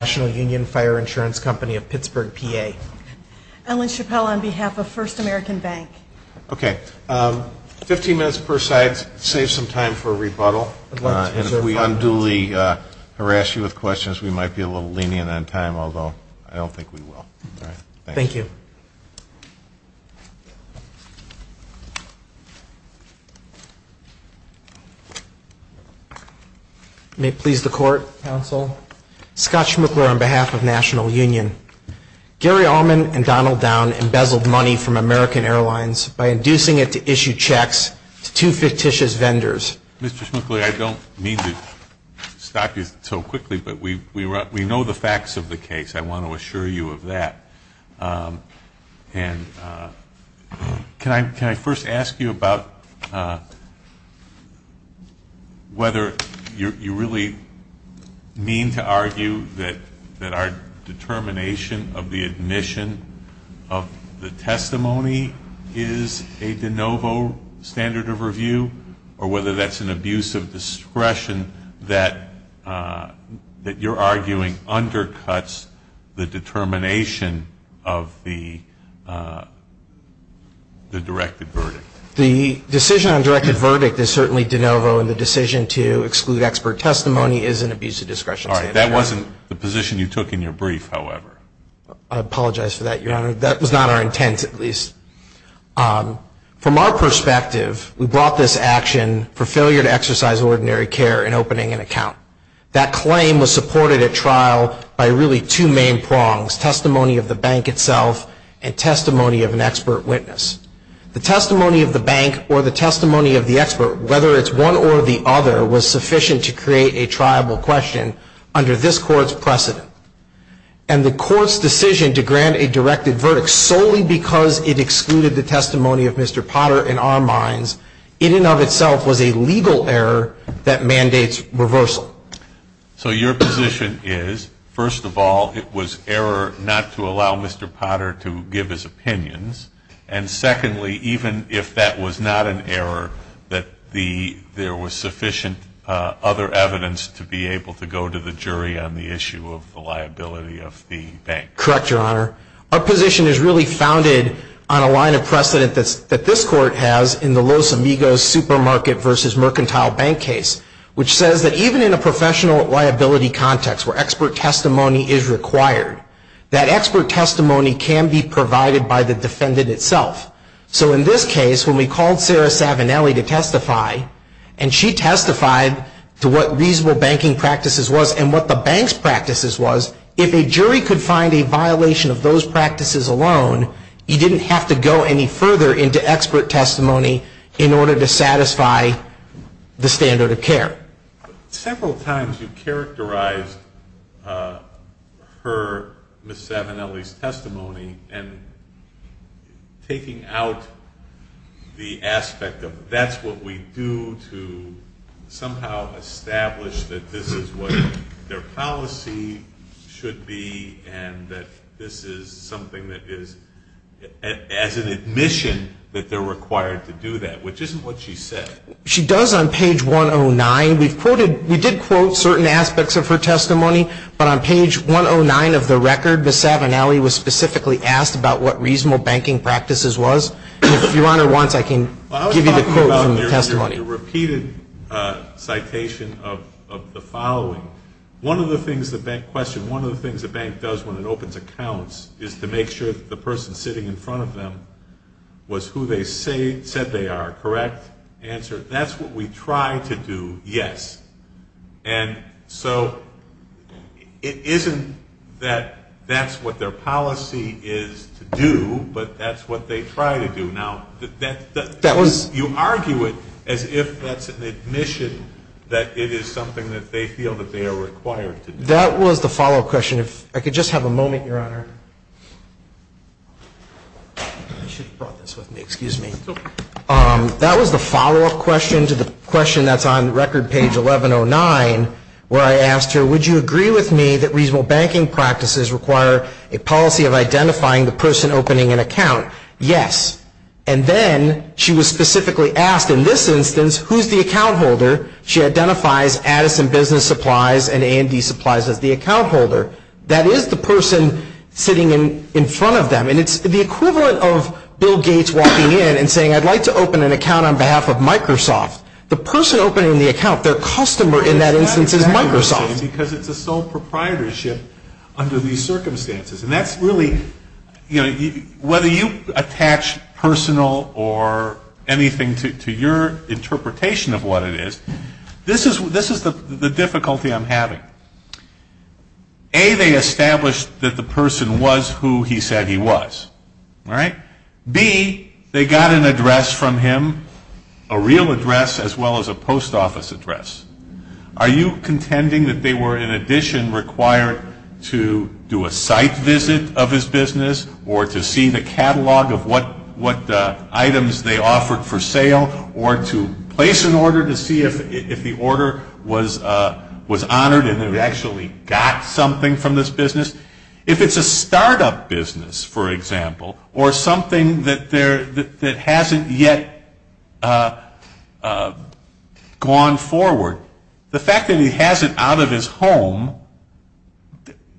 on behalf of First American Bank. Okay. Fifteen minutes per side, save some time for rebuttal. And if we unduly harass you with questions, we might be a little lenient on time, although I don't think we will. All right. Thank you. Thank you. May it please the court, counsel. Scott Schmuckler on behalf of National Union. Gary Allman and Donald Down embezzled money from American Airlines by inducing it to issue checks to two fictitious vendors. Mr. Schmuckler, I don't mean to stop you so quickly, but we know the facts of the case. I want to assure you of that. And can I first ask you about whether you really mean to argue that our determination of the admission of the testimony is a de novo standard of review, or whether that's an abuse of discretion that you're arguing undercuts the determination of the admission of the testimony. The decision on directed verdict is certainly de novo, and the decision to exclude expert testimony is an abuse of discretion. All right. That wasn't the position you took in your brief, however. I apologize for that, Your Honor. That was not our intent, at least. From our perspective, we brought this action for failure to exercise ordinary care in opening an account. That claim was supported at trial by really two main prongs, testimony of the bank itself and testimony of an expert witness. The testimony of the bank or the testimony of the expert, whether it's one or the other, was sufficient to create a triable question under this Court's precedent. And the Court's decision to grant a directed verdict solely because it excluded the testimony of Mr. Potter, in our minds, in and of itself was a legal error that mandates reversal. So your position is, first of all, it was error not to allow Mr. Potter to give his opinions, and secondly, even if that was not an error, that there was sufficient other evidence to be able to go to the jury on the issue of the liability of the bank. Correct, Your Honor. Our position is really founded on a line of precedent that this Court has in the Los Amigos supermarket versus mercantile bank case, which says that even in a professional liability context where expert testimony is required, that expert testimony can be provided by the defendant itself. So in this case, when we called Sarah Savinelli to testify, and she testified to what reasonable banking practices was and what the bank's practices was, if a jury could find a violation of those practices alone, you didn't have to go any further into expert testimony in order to satisfy the standard of care. Several times you characterized her, Ms. Savinelli's testimony, and taking out the aspect of that's what we do to somehow establish that this is what their policy should be, and that this is something that is, as it were, the standard of care. And so the question is, does the bank, as an admission that they're required to do that, which isn't what she said. She does on page 109. We did quote certain aspects of her testimony, but on page 109 of the record, Ms. Savinelli was specifically asked about what reasonable banking practices was. And if Your Honor wants, I can give you the quote from the testimony. Well, I was talking about your repeated citation of the following. One of the things the bank does when it opens accounts is to make sure that the person sitting in front of them was who they said they are, correct? Answer, that's what we try to do, yes. And so it isn't that that's what their policy is to do, but that's what they try to do. Now, you argue it as if that's an admission that it is something that they feel that they are required to do. Excuse me. That was the follow-up question to the question that's on record page 1109, where I asked her, would you agree with me that reasonable banking practices require a policy of identifying the person opening an account? Yes. And then she was specifically asked, in this instance, who's the account holder? She identifies Addison Business Supplies and AMD Supplies as the account holder. That is the person sitting in front of them. And it's the equivalent of Bill Gates walking in and saying, I'd like to open an account on behalf of Microsoft. The person opening the account, their customer in that instance is Microsoft. It's not exactly the same, because it's a sole proprietorship under these circumstances. And that's really, you know, whether you attach personal or anything to your interpretation of what it is, this is the difficulty I'm having. A, they establish that the person was who he said he was. B, they got an address from him, a real address, as well as a post office address. Are you contending that they were, in addition, required to do a site visit of his business or to see the catalog of what items they offered for sale or to place an order to see if the order was honored and it actually got something from this business? If it's a state-of-the-art business, for example, or something that hasn't yet gone forward, the fact that he has it out of his home,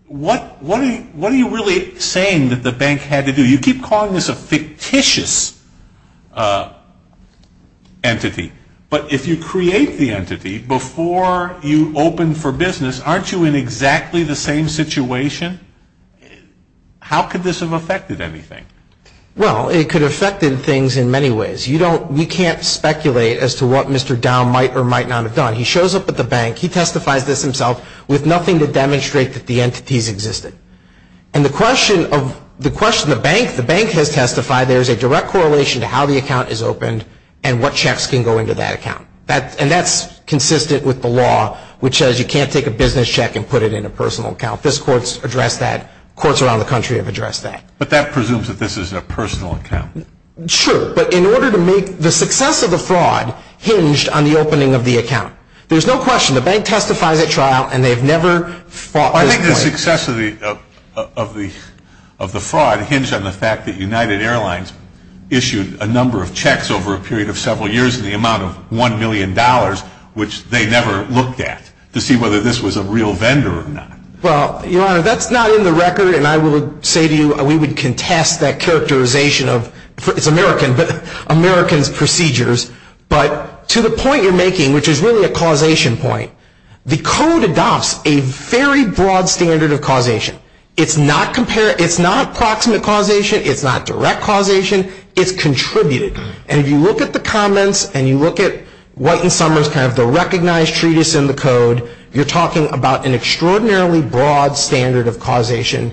what are you really saying that the bank had to do? You keep calling this a fictitious entity. But if you create the entity before you open for business, aren't you in exactly the same situation? How could this have affected anything? Well, it could have affected things in many ways. You don't, you can't speculate as to what Mr. Dow might or might not have done. He shows up at the bank. He testifies this himself with nothing to demonstrate that the entities existed. And the question of, the question the bank, the bank has testified there is a direct correlation to how the account is opened and what checks can go into that account. And that's consistent with the law, which says you can't take a business check and put it in a personal account. This court's addressed that. Courts around the country have addressed that. But that presumes that this is a personal account. True, but in order to make the success of the fraud hinged on the opening of the account. There's no question, the bank testifies at trial and they've never fought this claim. I think the success of the fraud hinged on the fact that United Airlines issued a number of checks over a period of several years in the amount of $1 million, which they never looked at to see whether this was a real vendor or not. Well, Your Honor, that's not in the record. And I will say to you, we would contest that characterization of, it's American, but American's procedures. But to the point you're making, which is really a causation point, the code adopts a very broad standard of causation. It's not approximate causation. It's not direct causation. It's contributed. And if you look at the comments and you look at White and Summers, kind of the recognized treatise in the code, you're talking about an extraordinarily broad standard of causation.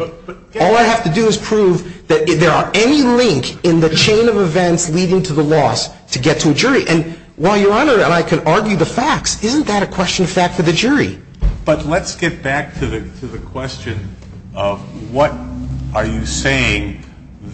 All I have to do is prove that there are any link in the chain of events leading to the loss to get to a jury. And while Your Honor and I can argue the facts, isn't that a question of fact for the jury? But let's get back to the question of what are you saying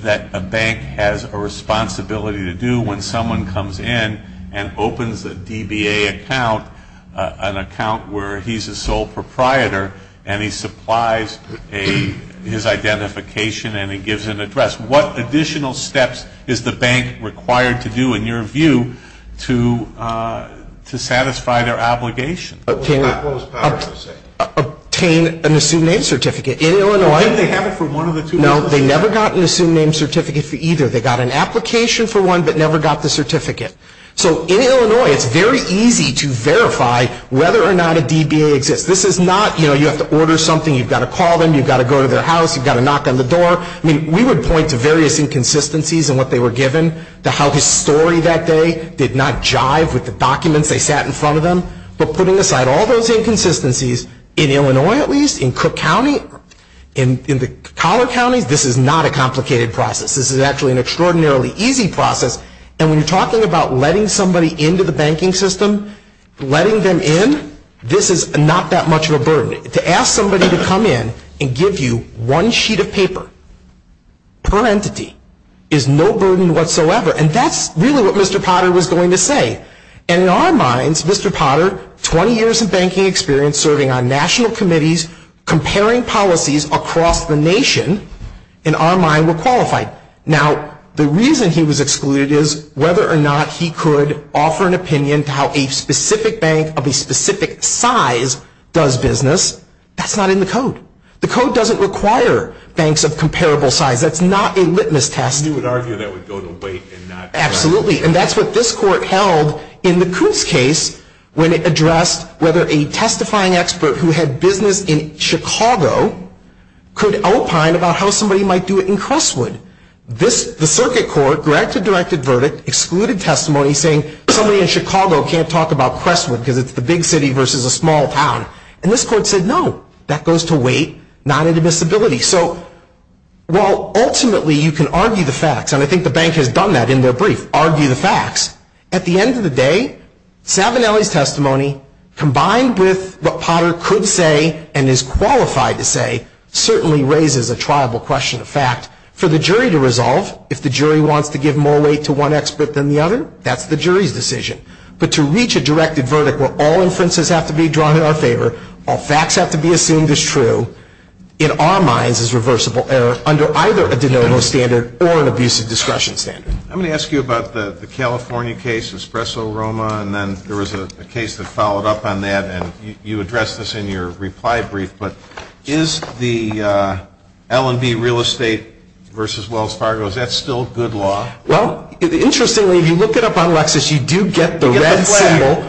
that a bank has a responsibility to do when someone comes in and opens a DBA account, an account where he's a sole proprietor, and he supplies his identification and he gives an address. What additional steps is the bank required to do, in your view, to satisfy their obligation? What was Powers going to say? Obtain an assumed name certificate. In Illinois. No, they never got an assumed name certificate for either. They got an application for one, but never got the certificate. So in Illinois, it's very easy to verify whether or not a DBA exists. This is not, you know, you have to order something, you've got to call them, you've got to go to their house, you've got to knock on the door. I mean, we would point to various inconsistencies in what they were given, to how his story that day did not jive with the documents they sat in front of them. But putting aside all those inconsistencies, in Illinois at least, in Cook County, in the collar counties, this is not a complicated process. This is actually an extraordinarily easy process. And when you're talking about letting somebody into the banking system, letting them in, this is not that much of a burden. To ask somebody to come in and give you one sheet of paper per entity is no burden whatsoever. And that's really what Mr. Potter, 20 years of banking experience serving on national committees, comparing policies across the nation, in our mind were qualified. Now, the reason he was excluded is whether or not he could offer an opinion to how a specific bank of a specific size does business, that's not in the code. The code doesn't require banks of comparable size. That's not a litmus test. You would argue that would go to wait and not try. Absolutely. And that's what this court held in the Coots case when it addressed whether a testifying expert who had business in Chicago could opine about how somebody might do it in Crestwood. The circuit court directed verdict, excluded testimony, saying somebody in Chicago can't talk about Crestwood because it's the big city versus a small town. And this court said, no, that goes to wait, not admissibility. So while ultimately you can argue the facts, and I think the bank has done that in their brief, but ultimately you can argue the facts, at the end of the day, Savinelli's testimony combined with what Potter could say and is qualified to say certainly raises a triable question of fact. For the jury to resolve, if the jury wants to give more weight to one expert than the other, that's the jury's decision. But to reach a directed verdict where all inferences have to be drawn in our favor, all facts have to be assumed as true, in our minds is reversible error under either a de novo standard or an abusive discretion standard. I'm going to ask you about the California case, Espresso Roma, and then there was a case that followed up on that, and you addressed this in your reply brief, but is the L&B real estate versus Wells Fargo, is that still good law? Well, interestingly, if you look it up on Lexis, you do get the red symbol,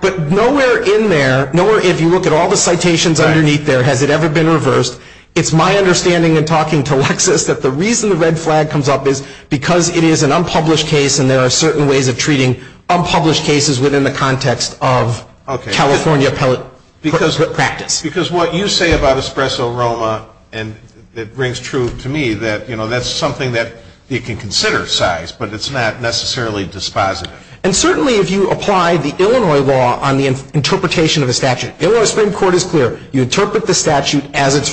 but nowhere in there, if you look at all the citations underneath there, has it ever been reversed. It's my understanding in talking to Lexis that the reason the red flag comes up is because it is an unpublished case and there are certain ways of treating unpublished cases within the context of California pellet practice. Because what you say about Espresso Roma, it rings true to me that that's something that you can consider sized, but it's not necessarily dispositive. And certainly if you apply the Illinois law on the interpretation of a statute, Illinois Supreme Court is clear, you interpret the statute as it's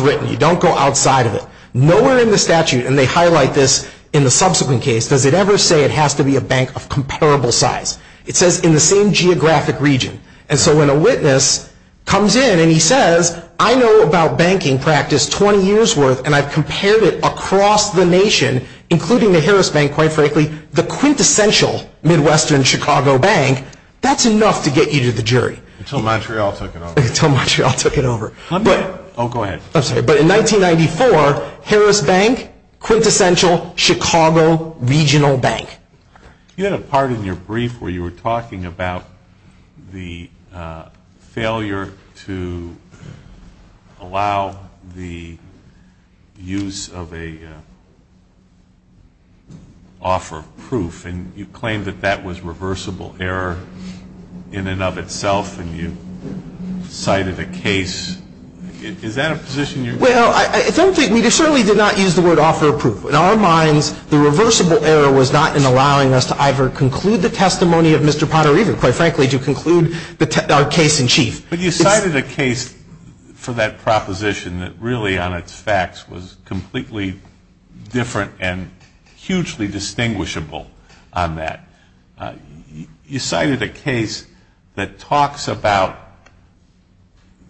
consequence case, does it ever say it has to be a bank of comparable size? It says in the same geographic region. And so when a witness comes in and he says, I know about banking practice 20 years worth and I've compared it across the nation, including the Harris Bank, quite frankly, the quintessential Midwestern Chicago bank, that's enough to get you to the jury. Until Montreal took it over. Until Montreal took it over. But in 1994, Harris Bank, quintessential Chicago regional bank. You had a part in your brief where you were talking about the failure to allow the use of an offer of proof and you claimed that that was reversible error in and of itself. And you cited a case, is that a position you're in? Well, I don't think, I certainly did not use the word offer of proof. In our minds, the reversible error was not in allowing us to either conclude the testimony of Mr. Pottery, quite frankly, to conclude our case in chief. But you cited a case for that proposition that really on its facts was completely different and hugely distinguishable on that. You cited a case that talks about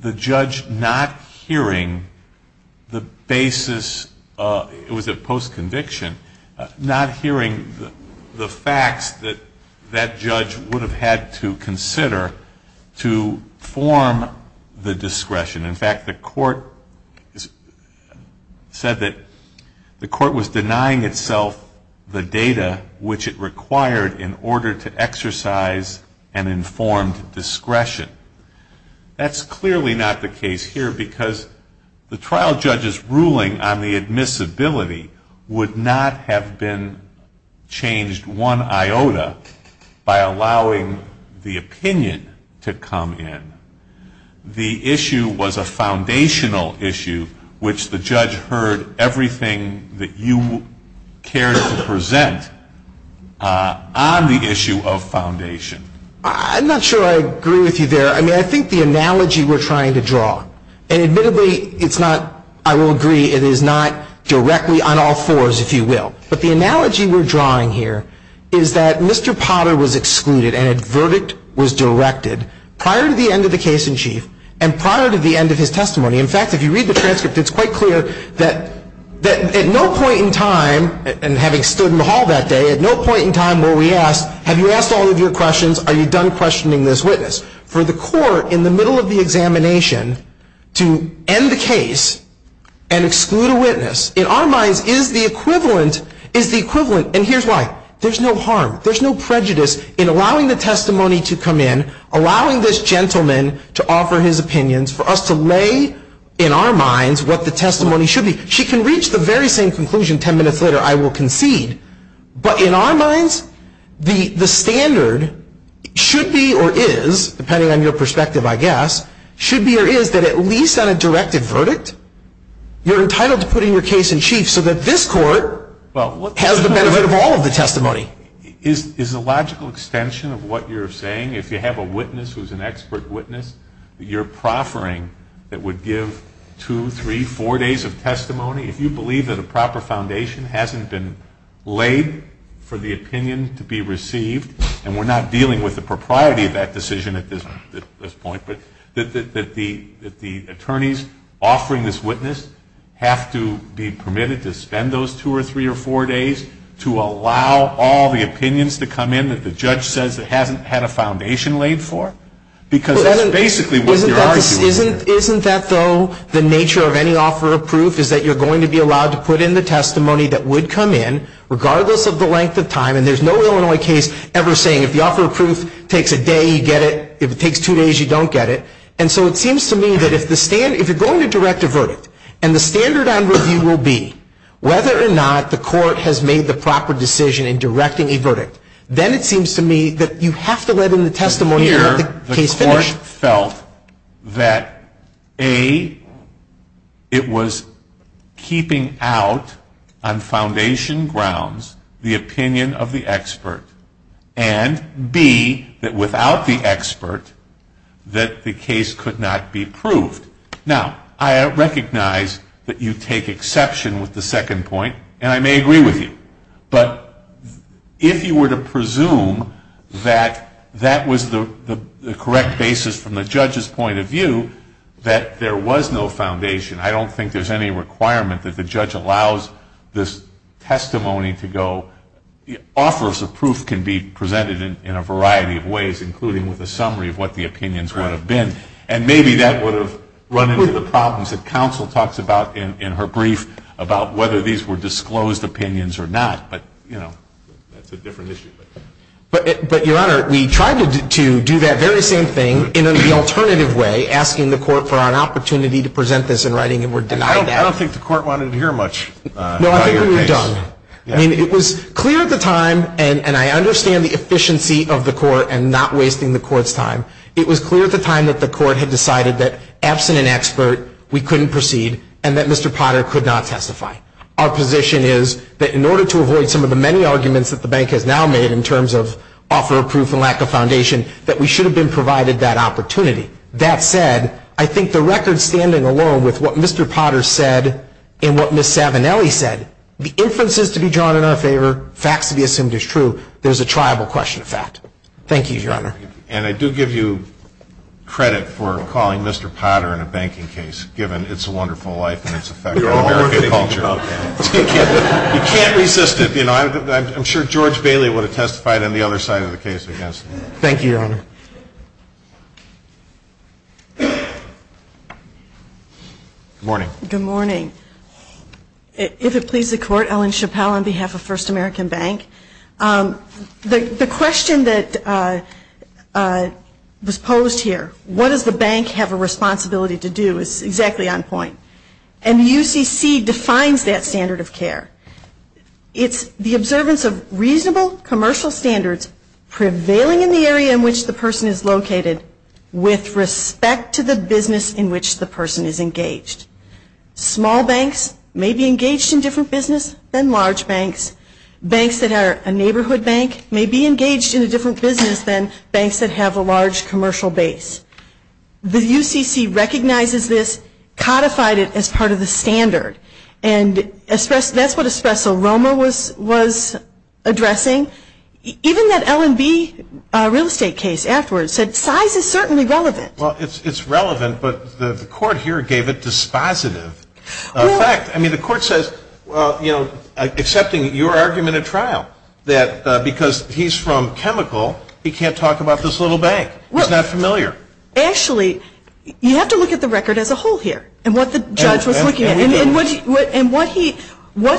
the judge not hearing the basis, it was a post-conviction, not hearing the facts that that judge would have had to consider to form the discretion. In fact, the court said that the court was denying itself the data which it required to form the discretion. That's clearly not the case here because the trial judge's ruling on the admissibility would not have been changed one iota by allowing the opinion to come in. The issue was a foundational issue, which the judge heard everything that you cared to present on the basis of the fact that the judge was denying itself the discretion to make the decision. On the issue of foundation. I'm not sure I agree with you there. I mean, I think the analogy we're trying to draw, and admittedly, it's not, I will agree, it is not directly on all fours, if you will. But the analogy we're drawing here is that Mr. Potter was excluded and a verdict was directed prior to the end of the case in chief and prior to the end of his testimony. And the question is, have you asked all of your questions? Are you done questioning this witness? For the court in the middle of the examination to end the case and exclude a witness, in our minds, is the equivalent, and here's why. There's no harm. There's no prejudice in allowing the testimony to come in, allowing this gentleman to offer his opinions, for us to lay in our minds what the testimony should be. She can reach the very same conclusion ten minutes later, I will concede. But in our minds, the standard should be, or is, depending on your perspective, I guess, should be or is that at least on a directed verdict, you're entitled to put in your case in chief so that this court has the benefit of all of the testimony. Is the logical extension of what you're saying, if you have a witness who's an expert witness, that you're proffering that would give two, three, four days of testimony? If you believe that a proper foundation hasn't been laid for the opinion to be received, and we're not dealing with the propriety of that decision at this point, but that the attorneys offering this witness have to be permitted to spend those two or three or four days to allow all the opinions to come in that the judge says it hasn't had a foundation laid for? Because that's basically what you're arguing here. Isn't that, though, the nature of any offer of proof is that you're going to be allowed to put in the testimony that would come in, regardless of the length of time, and there's no Illinois case ever saying if the offer of proof takes a day, you get it. If it takes two days, you don't get it. And so it seems to me that if you're going to direct a verdict, and the standard on review will be whether or not the court has made the proper decision in directing a verdict, then it seems to me that you have to let in the testimony to get the case finished. And here the court felt that, A, it was keeping out on foundation grounds the opinion of the expert, and, B, that without the expert, that the case could not be proved. Now, I recognize that you take exception with the second point, and I may agree with you. But if you were to presume that that was the correct basis from the judge's point of view, that there was no foundation, I don't think there's any requirement that the judge allows this testimony to go. Offers of proof can be presented in a variety of ways, including with a summary of what the opinions would have been. And maybe that would have run into the problems that counsel talks about in her brief, about whether these were disclosed opinions or not. But, you know, that's a different issue. But, Your Honor, we tried to do that very same thing in an alternative way, asking the court for an opportunity to present this in writing, and were denied that. I don't think the court wanted to hear much about your case. No, I think we were done. I mean, it was clear at the time, and I understand the efficiency of the court and not wasting the court's time, it was clear at the time that the court had decided that, absent an expert, we couldn't proceed, and that Mr. Potter could not testify. Our position is that in order to avoid some of the many arguments that the bank has now made in terms of offer of proof and lack of foundation, that we should have been provided that opportunity. That said, I think the record standing alone with what Mr. Potter said and what Ms. Savinelli said, the inferences to be drawn in our favor, facts to be assumed as true, there's a triable question of fact. Thank you, Your Honor. And I do give you credit for calling Mr. Potter in a banking case, given its wonderful life and its effect on American culture. You can't resist it. I'm sure George Bailey would have testified on the other side of the case against him. Thank you, Your Honor. Good morning. Good morning. If it pleases the Court, Ellen Chappell on behalf of First American Bank. The question that was posed here, what does the bank have a responsibility to do, is exactly on point. It's the observance of reasonable commercial standards prevailing in the area in which the person is located with respect to the business in which the person is engaged. Small banks may be engaged in different business than large banks. Banks that are a neighborhood bank may be engaged in a different business than banks that have a large commercial base. The UCC recognizes this, codified it as part of the standard, and that's what Espresso Roma was addressing. Even that L&B real estate case afterwards said size is certainly relevant. Well, it's relevant, but the Court here gave it dispositive effect. I mean, the Court says, well, you know, accepting your argument at trial that because he's from chemical, he can't talk about this little bank. He's not familiar. Actually, you have to look at the record as a whole here and what the judge was looking at and what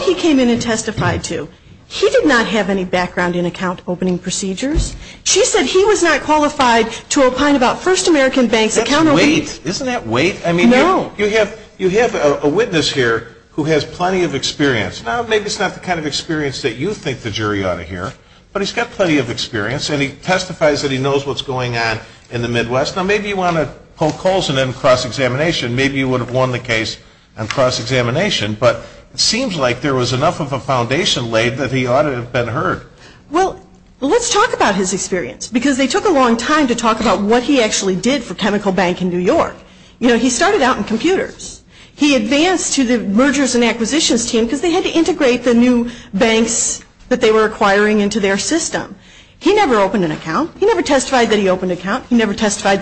he came in and testified to. He did not have any background in account opening procedures. She said he was not qualified to opine about First American Bank's account opening. Isn't that weight? I mean, you have a witness here who has plenty of experience. Now, maybe it's not the kind of experience that you think the jury ought to hear, but he's got plenty of experience, and he testifies that he knows what's going on in the Midwest. Now, maybe you want to poke holes in him in cross-examination. Maybe you would have won the case on cross-examination, but it seems like there was enough of a foundation laid that he ought to have been heard. Well, let's talk about his experience, because they took a long time to talk about what he actually did for Chemical Bank in New York. You know, he started out in computers. He advanced to the mergers and acquisitions team because they had to integrate the new banks that they were acquiring into their system. He never opened an account. He never testified that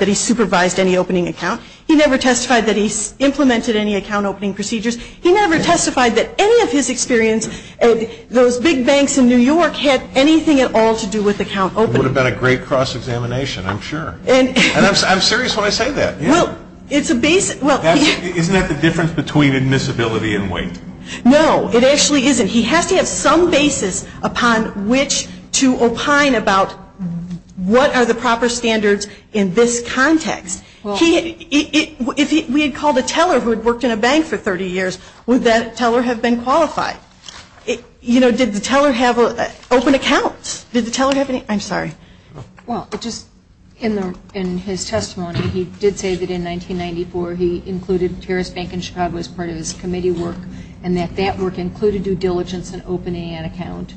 he supervised any opening account. He never testified that he implemented any account opening procedures. He never testified that any of his experience at those big banks in New York had anything at all to do with account opening. It would have been a great cross-examination, I'm sure. And I'm serious when I say that. Isn't that the difference between admissibility and weight? No, it actually isn't. He has to have some basis upon which to opine about what are the proper standards in this context. If we had called a teller who had worked in a bank for 30 years, would that teller have been qualified? You know, did the teller have open accounts? Did the teller have any? I'm sorry. Well, just in his testimony, he did say that in 1994 he included Terrace Bank in Chicago as part of his committee work and that that work included due diligence and opening an account.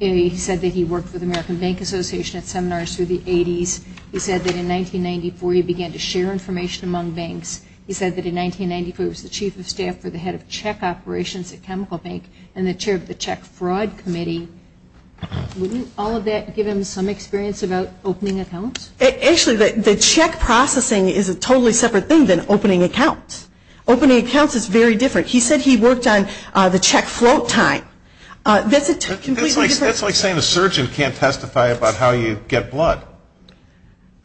He said that he worked for the American Bank Association at seminars through the 80s. He said that in 1994 he began to share information among banks. He said that in 1994 he was the chief of staff for the head of check operations at Chemical Bank and the chair of the check fraud committee. Wouldn't all of that give him some experience about opening accounts? Actually, the check processing is a totally separate thing than opening accounts. Opening accounts is very different. He said he worked on the check float time. That's like saying a surgeon can't testify about how you get blood.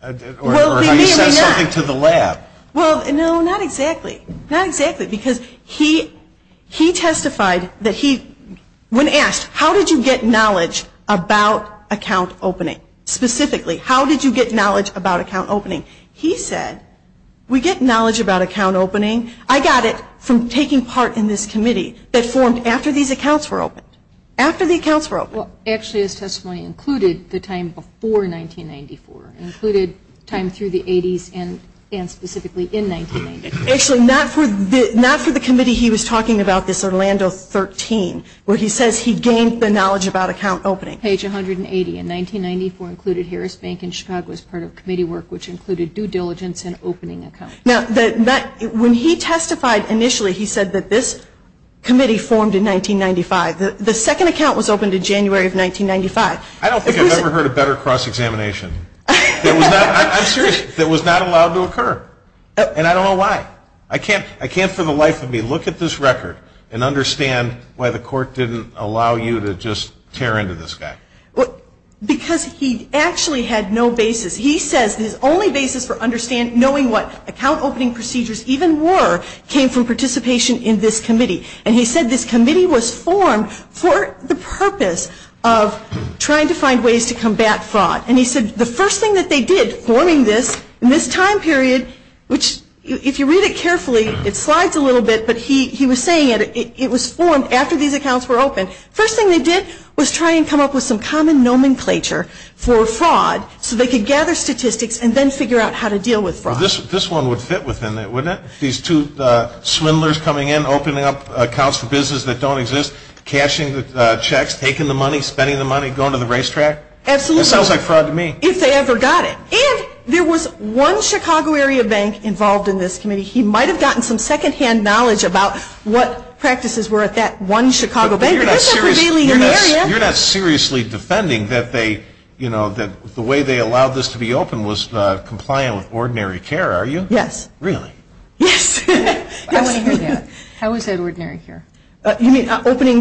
Or how you send something to the lab. Well, no, not exactly. Not exactly, because he testified that he, when asked how did you get knowledge about account opening, specifically, how did you get knowledge about account opening, he said we get knowledge about account opening, I got it from taking part in this committee that formed after these accounts were opened, after the accounts were opened. Actually, his testimony included the time before 1994. It included time through the 80s and specifically in 1994. Actually, not for the committee he was talking about, this Orlando 13, where he says he gained the knowledge about account opening. Page 180, in 1994 included Harris Bank and Chicago as part of committee work, which included due diligence and opening accounts. Now, when he testified initially, he said that this committee formed in 1995. The second account was opened in January of 1995. I don't think I've ever heard a better cross-examination. I'm serious. That was not allowed to occur. And I don't know why. I can't for the life of me look at this record and understand why the court didn't allow you to just tear into this guy. Because he actually had no basis. He says his only basis for knowing what account opening procedures even were came from participation in this committee. And he said this committee was formed for the purpose of trying to find ways to combat fraud. And he said the first thing that they did forming this in this time period, which if you read it carefully, it slides a little bit, but he was saying it was formed after these accounts were opened. First thing they did was try and come up with some common nomenclature for fraud so they could gather statistics and then figure out how to deal with fraud. This one would fit within that, wouldn't it? These two swindlers coming in, opening up accounts for business that don't exist, cashing the checks, taking the money, spending the money, going to the racetrack. Absolutely. That sounds like fraud to me. If they ever got it. And there was one Chicago area bank involved in this committee. He might have gotten some second-hand knowledge about what practices were at that one Chicago bank. But you're not seriously defending that the way they allowed this to be opened was compliant with ordinary care, are you? Yes. Really? Yes. I want to hear that. How is that ordinary care? You mean opening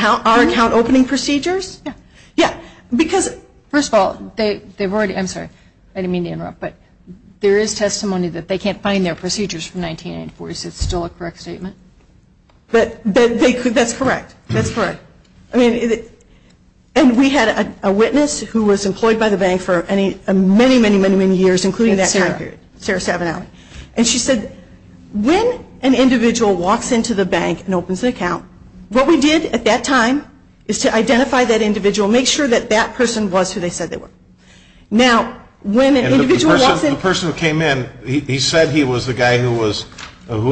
our account opening procedures? Yeah. Yeah. Because, first of all, they've already, I'm sorry, I didn't mean to interrupt, but there is testimony that they can't find their procedures from 1994. Is that still a correct statement? That's correct. That's correct. I mean, and we had a witness who was employed by the bank for many, many, many, many years, including that time period. Sarah. Sarah Savinelli. And she said, when an individual walks into the bank and opens an account, what we did at that time is to identify that individual, make sure that that person was who they said they were. Now, when an individual walks in. And the person who came in, he said he was the guy who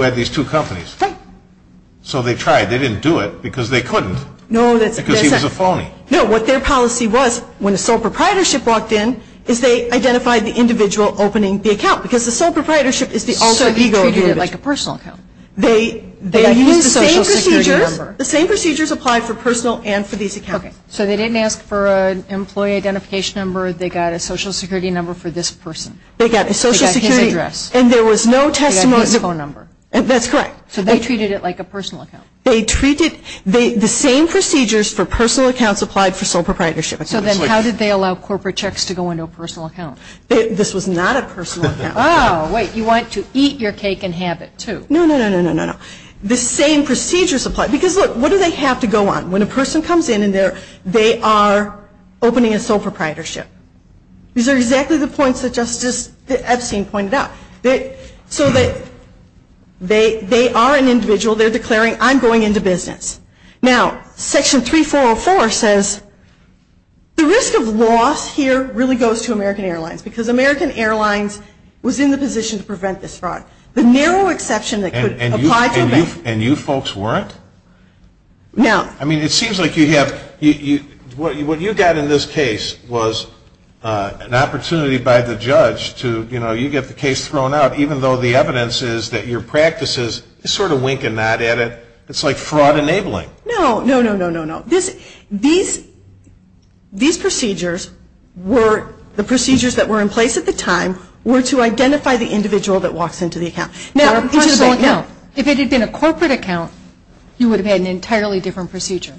had these two companies. Right. So they tried. They didn't do it because they couldn't. No, that's. Because he was a phony. No, what their policy was, when a sole proprietorship walked in, is they identified the individual opening the account. Because the sole proprietorship is the alter ego. So he treated it like a personal account. They used the same procedures. They used the social security number. The same procedures applied for personal and for these accounts. Okay. So they didn't ask for an employee identification number. They got a social security number for this person. They got a social security. They got his address. And there was no testimony. They got his phone number. That's correct. So they treated it like a personal account. They treated the same procedures for personal accounts applied for sole proprietorship. So then how did they allow corporate checks to go into a personal account? This was not a personal account. Oh, wait. You want to eat your cake and have it too. No, no, no, no, no, no. The same procedures applied. Because, look, what do they have to go on? When a person comes in and they are opening a sole proprietorship. These are exactly the points that Justice Epstein pointed out. So they are an individual. They're declaring, I'm going into business. Now, Section 3404 says the risk of loss here really goes to American Airlines because American Airlines was in the position to prevent this fraud. The narrow exception that could apply to American Airlines. And you folks weren't? No. I mean, it seems like you have, what you got in this case was an opportunity by the judge to, you know, you get the case thrown out, even though the evidence is that your practice is sort of winking that at it. It's like fraud enabling. No, no, no, no, no, no. These procedures were, the procedures that were in place at the time, were to identify the individual that walks into the account. Now, if it had been a corporate account, you would have had an entirely different procedure.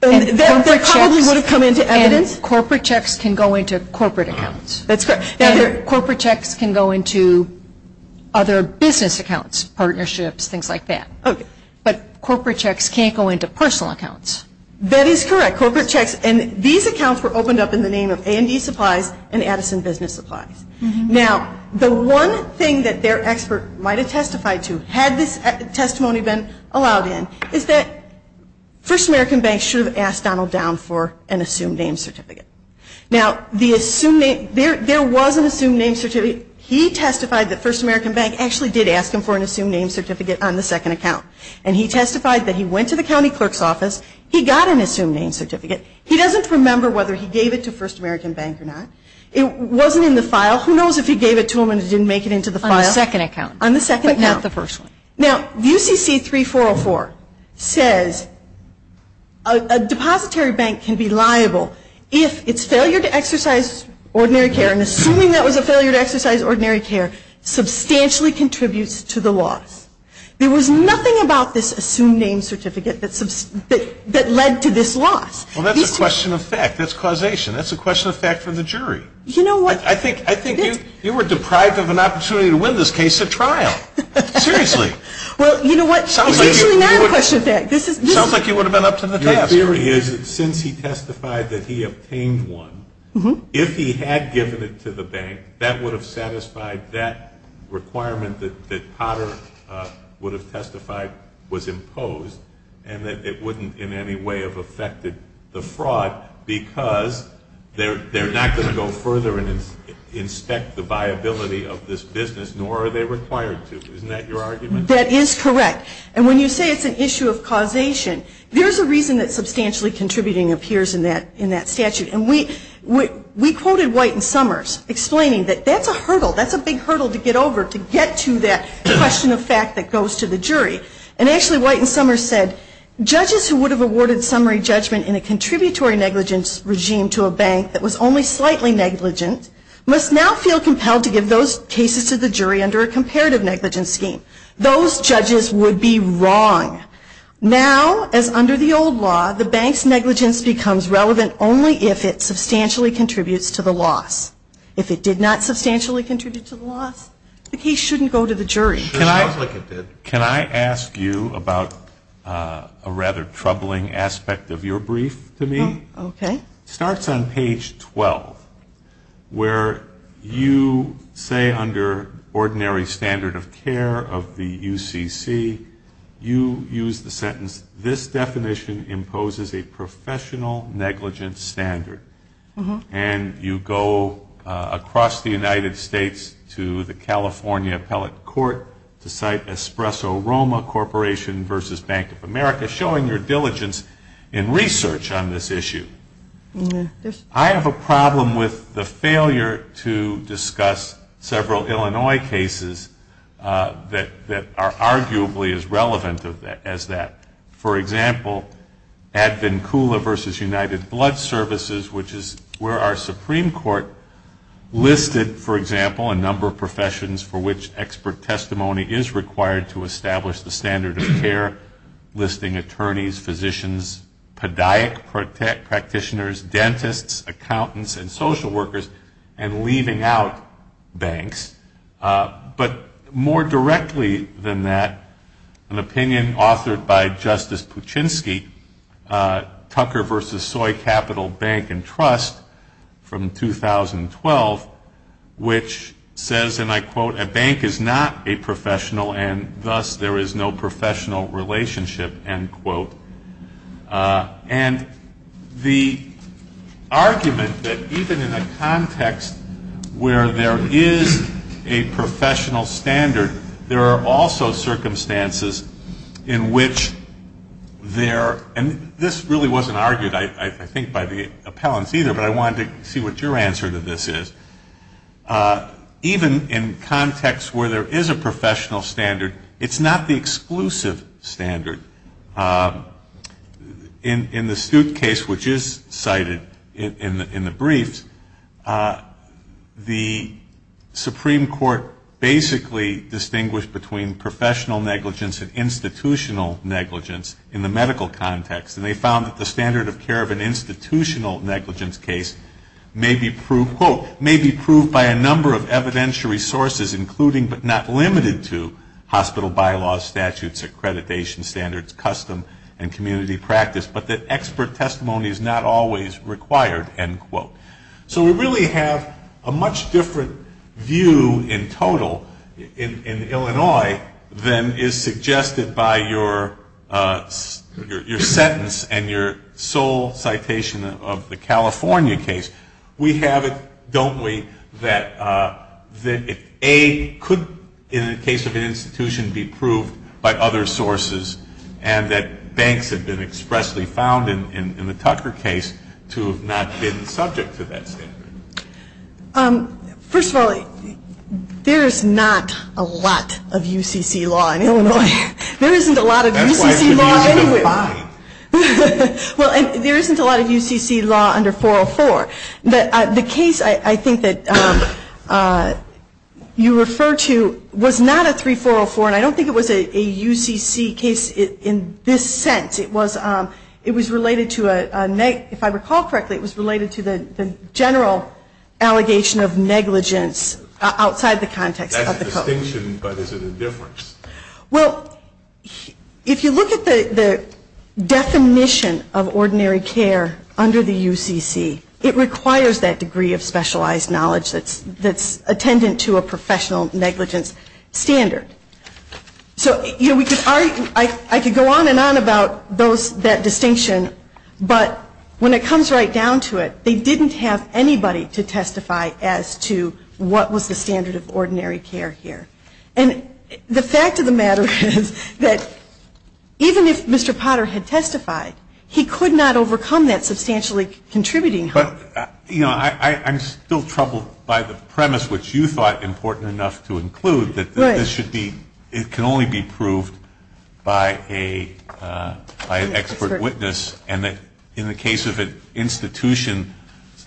That probably would have come into evidence. And corporate checks can go into corporate accounts. That's correct. And corporate checks can go into other business accounts, partnerships, things like that. Okay. But corporate checks can't go into personal accounts. That is correct. Corporate checks, and these accounts were opened up in the name of A&E Supplies and Addison Business Supplies. Now, the one thing that their expert might have testified to, had this testimony been allowed in, is that First American Bank should have asked Donald Down for an assumed name certificate. Now, the assumed name, there was an assumed name certificate. He testified that First American Bank actually did ask him for an assumed name certificate on the second account. And he testified that he went to the county clerk's office. He got an assumed name certificate. He doesn't remember whether he gave it to First American Bank or not. It wasn't in the file. Who knows if he gave it to him and didn't make it into the file. On the second account. On the second account. But not the first one. Now, UCC 3404 says a depository bank can be liable if its failure to exercise ordinary care, and assuming that was a failure to exercise ordinary care, substantially contributes to the loss. There was nothing about this assumed name certificate that led to this loss. Well, that's a question of fact. That's causation. That's a question of fact for the jury. You know what? I think you were deprived of an opportunity to win this case at trial. Seriously. Well, you know what? It's actually not a question of fact. It sounds like you would have been up to the task. Your theory is that since he testified that he obtained one, if he had given it to the bank, that would have satisfied that requirement that Potter would have testified was imposed and that it wouldn't in any way have affected the fraud because they're not going to go further and inspect the viability of this business, nor are they required to. Isn't that your argument? That is correct. And when you say it's an issue of causation, there's a reason that substantially contributing appears in that statute. And we quoted White and Summers explaining that that's a hurdle. That's a big hurdle to get over to get to that question of fact that goes to the jury. And actually White and Summers said judges who would have awarded summary judgment in a contributory negligence regime to a bank that was only slightly negligent must now feel compelled to give those cases to the jury under a comparative negligence scheme. Those judges would be wrong. Now, as under the old law, the bank's negligence becomes relevant only if it substantially contributes to the loss. If it did not substantially contribute to the loss, the case shouldn't go to the jury. It sounds like it did. Can I ask you about a rather troubling aspect of your brief to me? Okay. It starts on page 12 where you say under ordinary standard of care of the UCC, you use the sentence, this definition imposes a professional negligence standard. And you go across the United States to the California appellate court to cite Espresso Roma Corporation versus Bank of America, by showing your diligence in research on this issue. I have a problem with the failure to discuss several Illinois cases that are arguably as relevant as that. For example, Advancula versus United Blood Services, which is where our Supreme Court listed, for example, a number of professions for which expert testimony is required to establish the standard of care, listing attorneys, physicians, podiac practitioners, dentists, accountants, and social workers, and leaving out banks. But more directly than that, an opinion authored by Justice Puchinsky, Tucker versus Soy Capital Bank and Trust from 2012, which says, and I quote, a bank is not a professional and thus there is no professional relationship, end quote. And the argument that even in a context where there is a professional standard, there are also circumstances in which there, and this really wasn't argued I think by the appellants either, but I wanted to see what your answer to this is. Even in contexts where there is a professional standard, it's not the exclusive standard. In the Stute case, which is cited in the briefs, the Supreme Court basically distinguished between professional negligence and institutional negligence in the medical context. And they found that the standard of care of an institutional negligence case may be proved, quote, may be proved by a number of evidentiary sources, including but not limited to hospital bylaws, statutes, accreditation standards, custom and community practice, but that expert testimony is not always required, end quote. So we really have a much different view in total in Illinois than is suggested by your sentence and your sole citation of the California case. We have it, don't we, that A, could in the case of an institution be proved by other sources and that banks have been expressly found in the Tucker case to have not been subject to that standard. First of all, there is not a lot of UCC law in Illinois. There isn't a lot of UCC law anywhere. Well, and there isn't a lot of UCC law under 404. The case I think that you refer to was not a 3404, and I don't think it was a UCC case in this sense. It was related to a, if I recall correctly, it was related to the general allegation of negligence outside the context of the code. As a distinction, but is it a difference? Well, if you look at the definition of ordinary care under the UCC, it requires that degree of specialized knowledge that's attendant to a professional negligence standard. So, you know, I could go on and on about that distinction, but when it comes right down to it, they didn't have anybody to testify as to what was the standard of ordinary care here. And the fact of the matter is that even if Mr. Potter had testified, he could not overcome that substantially contributing harm. But, you know, I'm still troubled by the premise, which you thought important enough to include, that this should be, it can only be proved by an expert witness, and that in the case of an institution,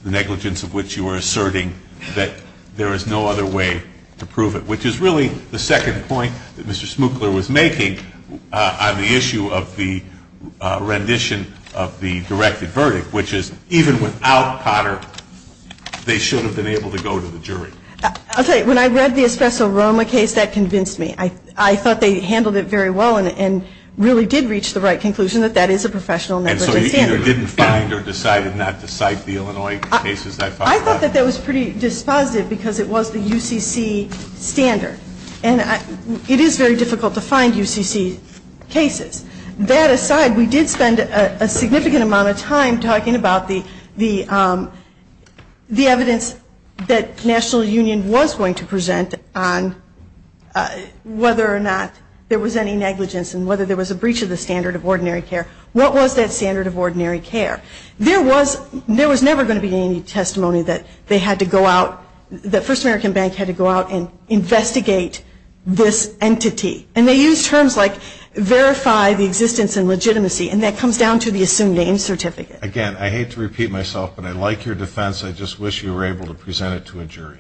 the negligence of which you were asserting, that there is no other way to prove it, which is really the second point that Mr. Smukler was making on the issue of the rendition of the directed verdict, which is even without Potter, they should have been able to go to the jury. I'll tell you, when I read the Espresso Roma case, that convinced me. I thought they handled it very well and really did reach the right conclusion that that is a professional negligence standard. And so you either didn't find or decided not to cite the Illinois cases that followed? I thought that that was pretty dispositive because it was the UCC standard. And it is very difficult to find UCC cases. That aside, we did spend a significant amount of time talking about the evidence that National Union was going to present on whether or not there was any negligence and whether there was a breach of the standard of ordinary care. What was that standard of ordinary care? There was never going to be any testimony that they had to go out, that First American Bank had to go out and investigate this entity. And they used terms like verify the existence and legitimacy, and that comes down to the assumed name certificate. Again, I hate to repeat myself, but I like your defense. I just wish you were able to present it to a jury.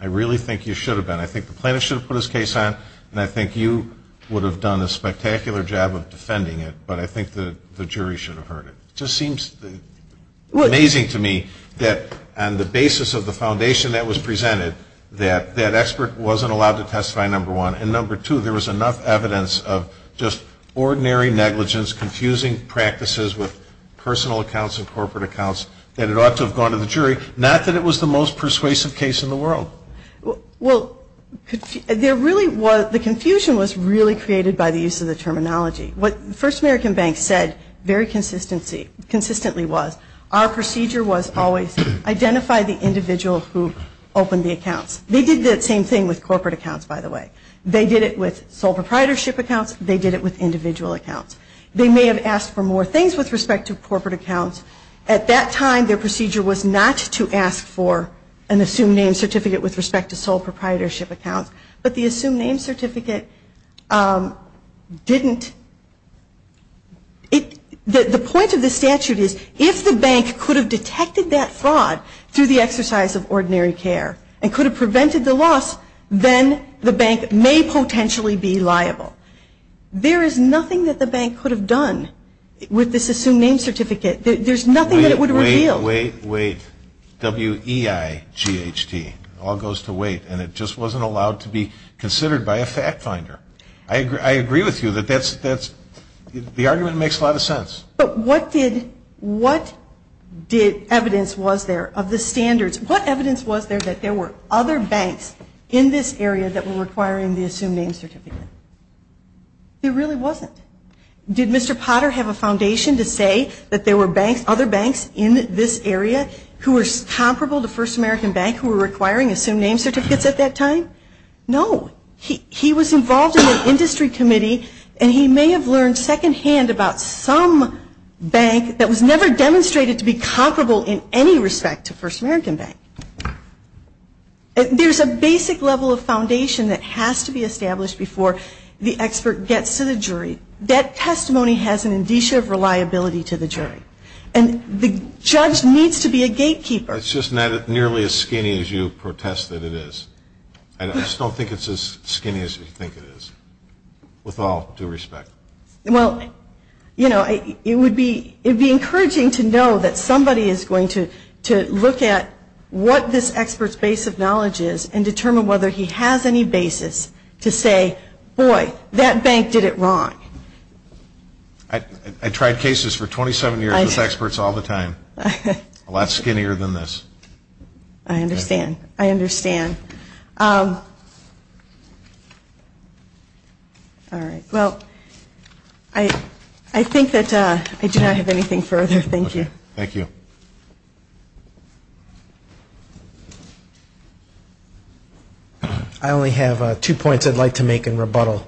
I really think you should have been. I think the plaintiff should have put his case on, and I think you would have done a spectacular job of defending it, but I think the jury should have heard it. It just seems amazing to me that on the basis of the foundation that was presented, that that expert wasn't allowed to testify, number one. And number two, there was enough evidence of just ordinary negligence, confusing practices with personal accounts and corporate accounts, that it ought to have gone to the jury, not that it was the most persuasive case in the world. Well, the confusion was really created by the use of the terminology. What First American Bank said very consistently was, our procedure was always identify the individual who opened the accounts. They did the same thing with corporate accounts, by the way. They did it with sole proprietorship accounts. They did it with individual accounts. They may have asked for more things with respect to corporate accounts. At that time, their procedure was not to ask for an assumed name certificate with respect to sole proprietorship accounts, but the assumed name certificate didn't. The point of the statute is, if the bank could have detected that fraud through the exercise of ordinary care, and could have prevented the loss, then the bank may potentially be liable. There is nothing that the bank could have done with this assumed name certificate. There's nothing that it would reveal. Wait, wait, wait. W-E-I-G-H-T. It all goes to wait, and it just wasn't allowed to be considered by a fact finder. I agree with you that that's the argument that makes a lot of sense. But what evidence was there of the standards? What evidence was there that there were other banks in this area that were requiring the assumed name certificate? There really wasn't. Did Mr. Potter have a foundation to say that there were other banks in this area who were comparable to First American Bank who were requiring assumed name certificates at that time? No. He was involved in an industry committee, and he may have learned secondhand about some bank that was never demonstrated to be comparable in any respect to First American Bank. There's a basic level of foundation that has to be established before the expert gets to the jury. That testimony has an indicia of reliability to the jury. And the judge needs to be a gatekeeper. It's just not nearly as skinny as you protest that it is. I just don't think it's as skinny as you think it is, with all due respect. Well, you know, it would be encouraging to know that somebody is going to look at what this expert's base of knowledge is and determine whether he has any basis to say, boy, that bank did it wrong. I tried cases for 27 years with experts all the time. A lot skinnier than this. I understand. I understand. All right. Well, I think that I do not have anything further. Thank you. I only have two points I'd like to make in rebuttal.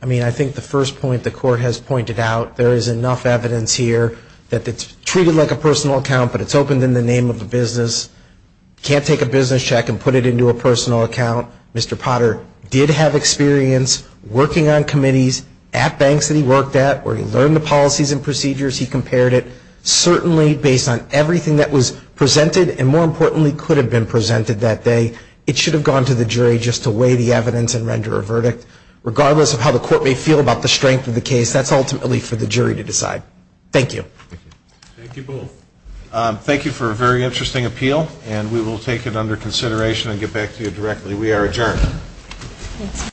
I mean, I think the first point the Court has pointed out, there is enough evidence here that it's treated like a personal account, but it's opened in the name of the business. You can't take a business check and put it into a personal account. Mr. Potter did have experience working on committees at banks that he worked at where he learned the policies and procedures. He compared it. Certainly, based on everything that was presented, and more importantly could have been presented that day, it should have gone to the jury just to weigh the evidence and render a verdict. Regardless of how the Court may feel about the strength of the case, that's ultimately for the jury to decide. Thank you. Thank you both. Thank you for a very interesting appeal, and we will take it under consideration and get back to you directly. We are adjourned.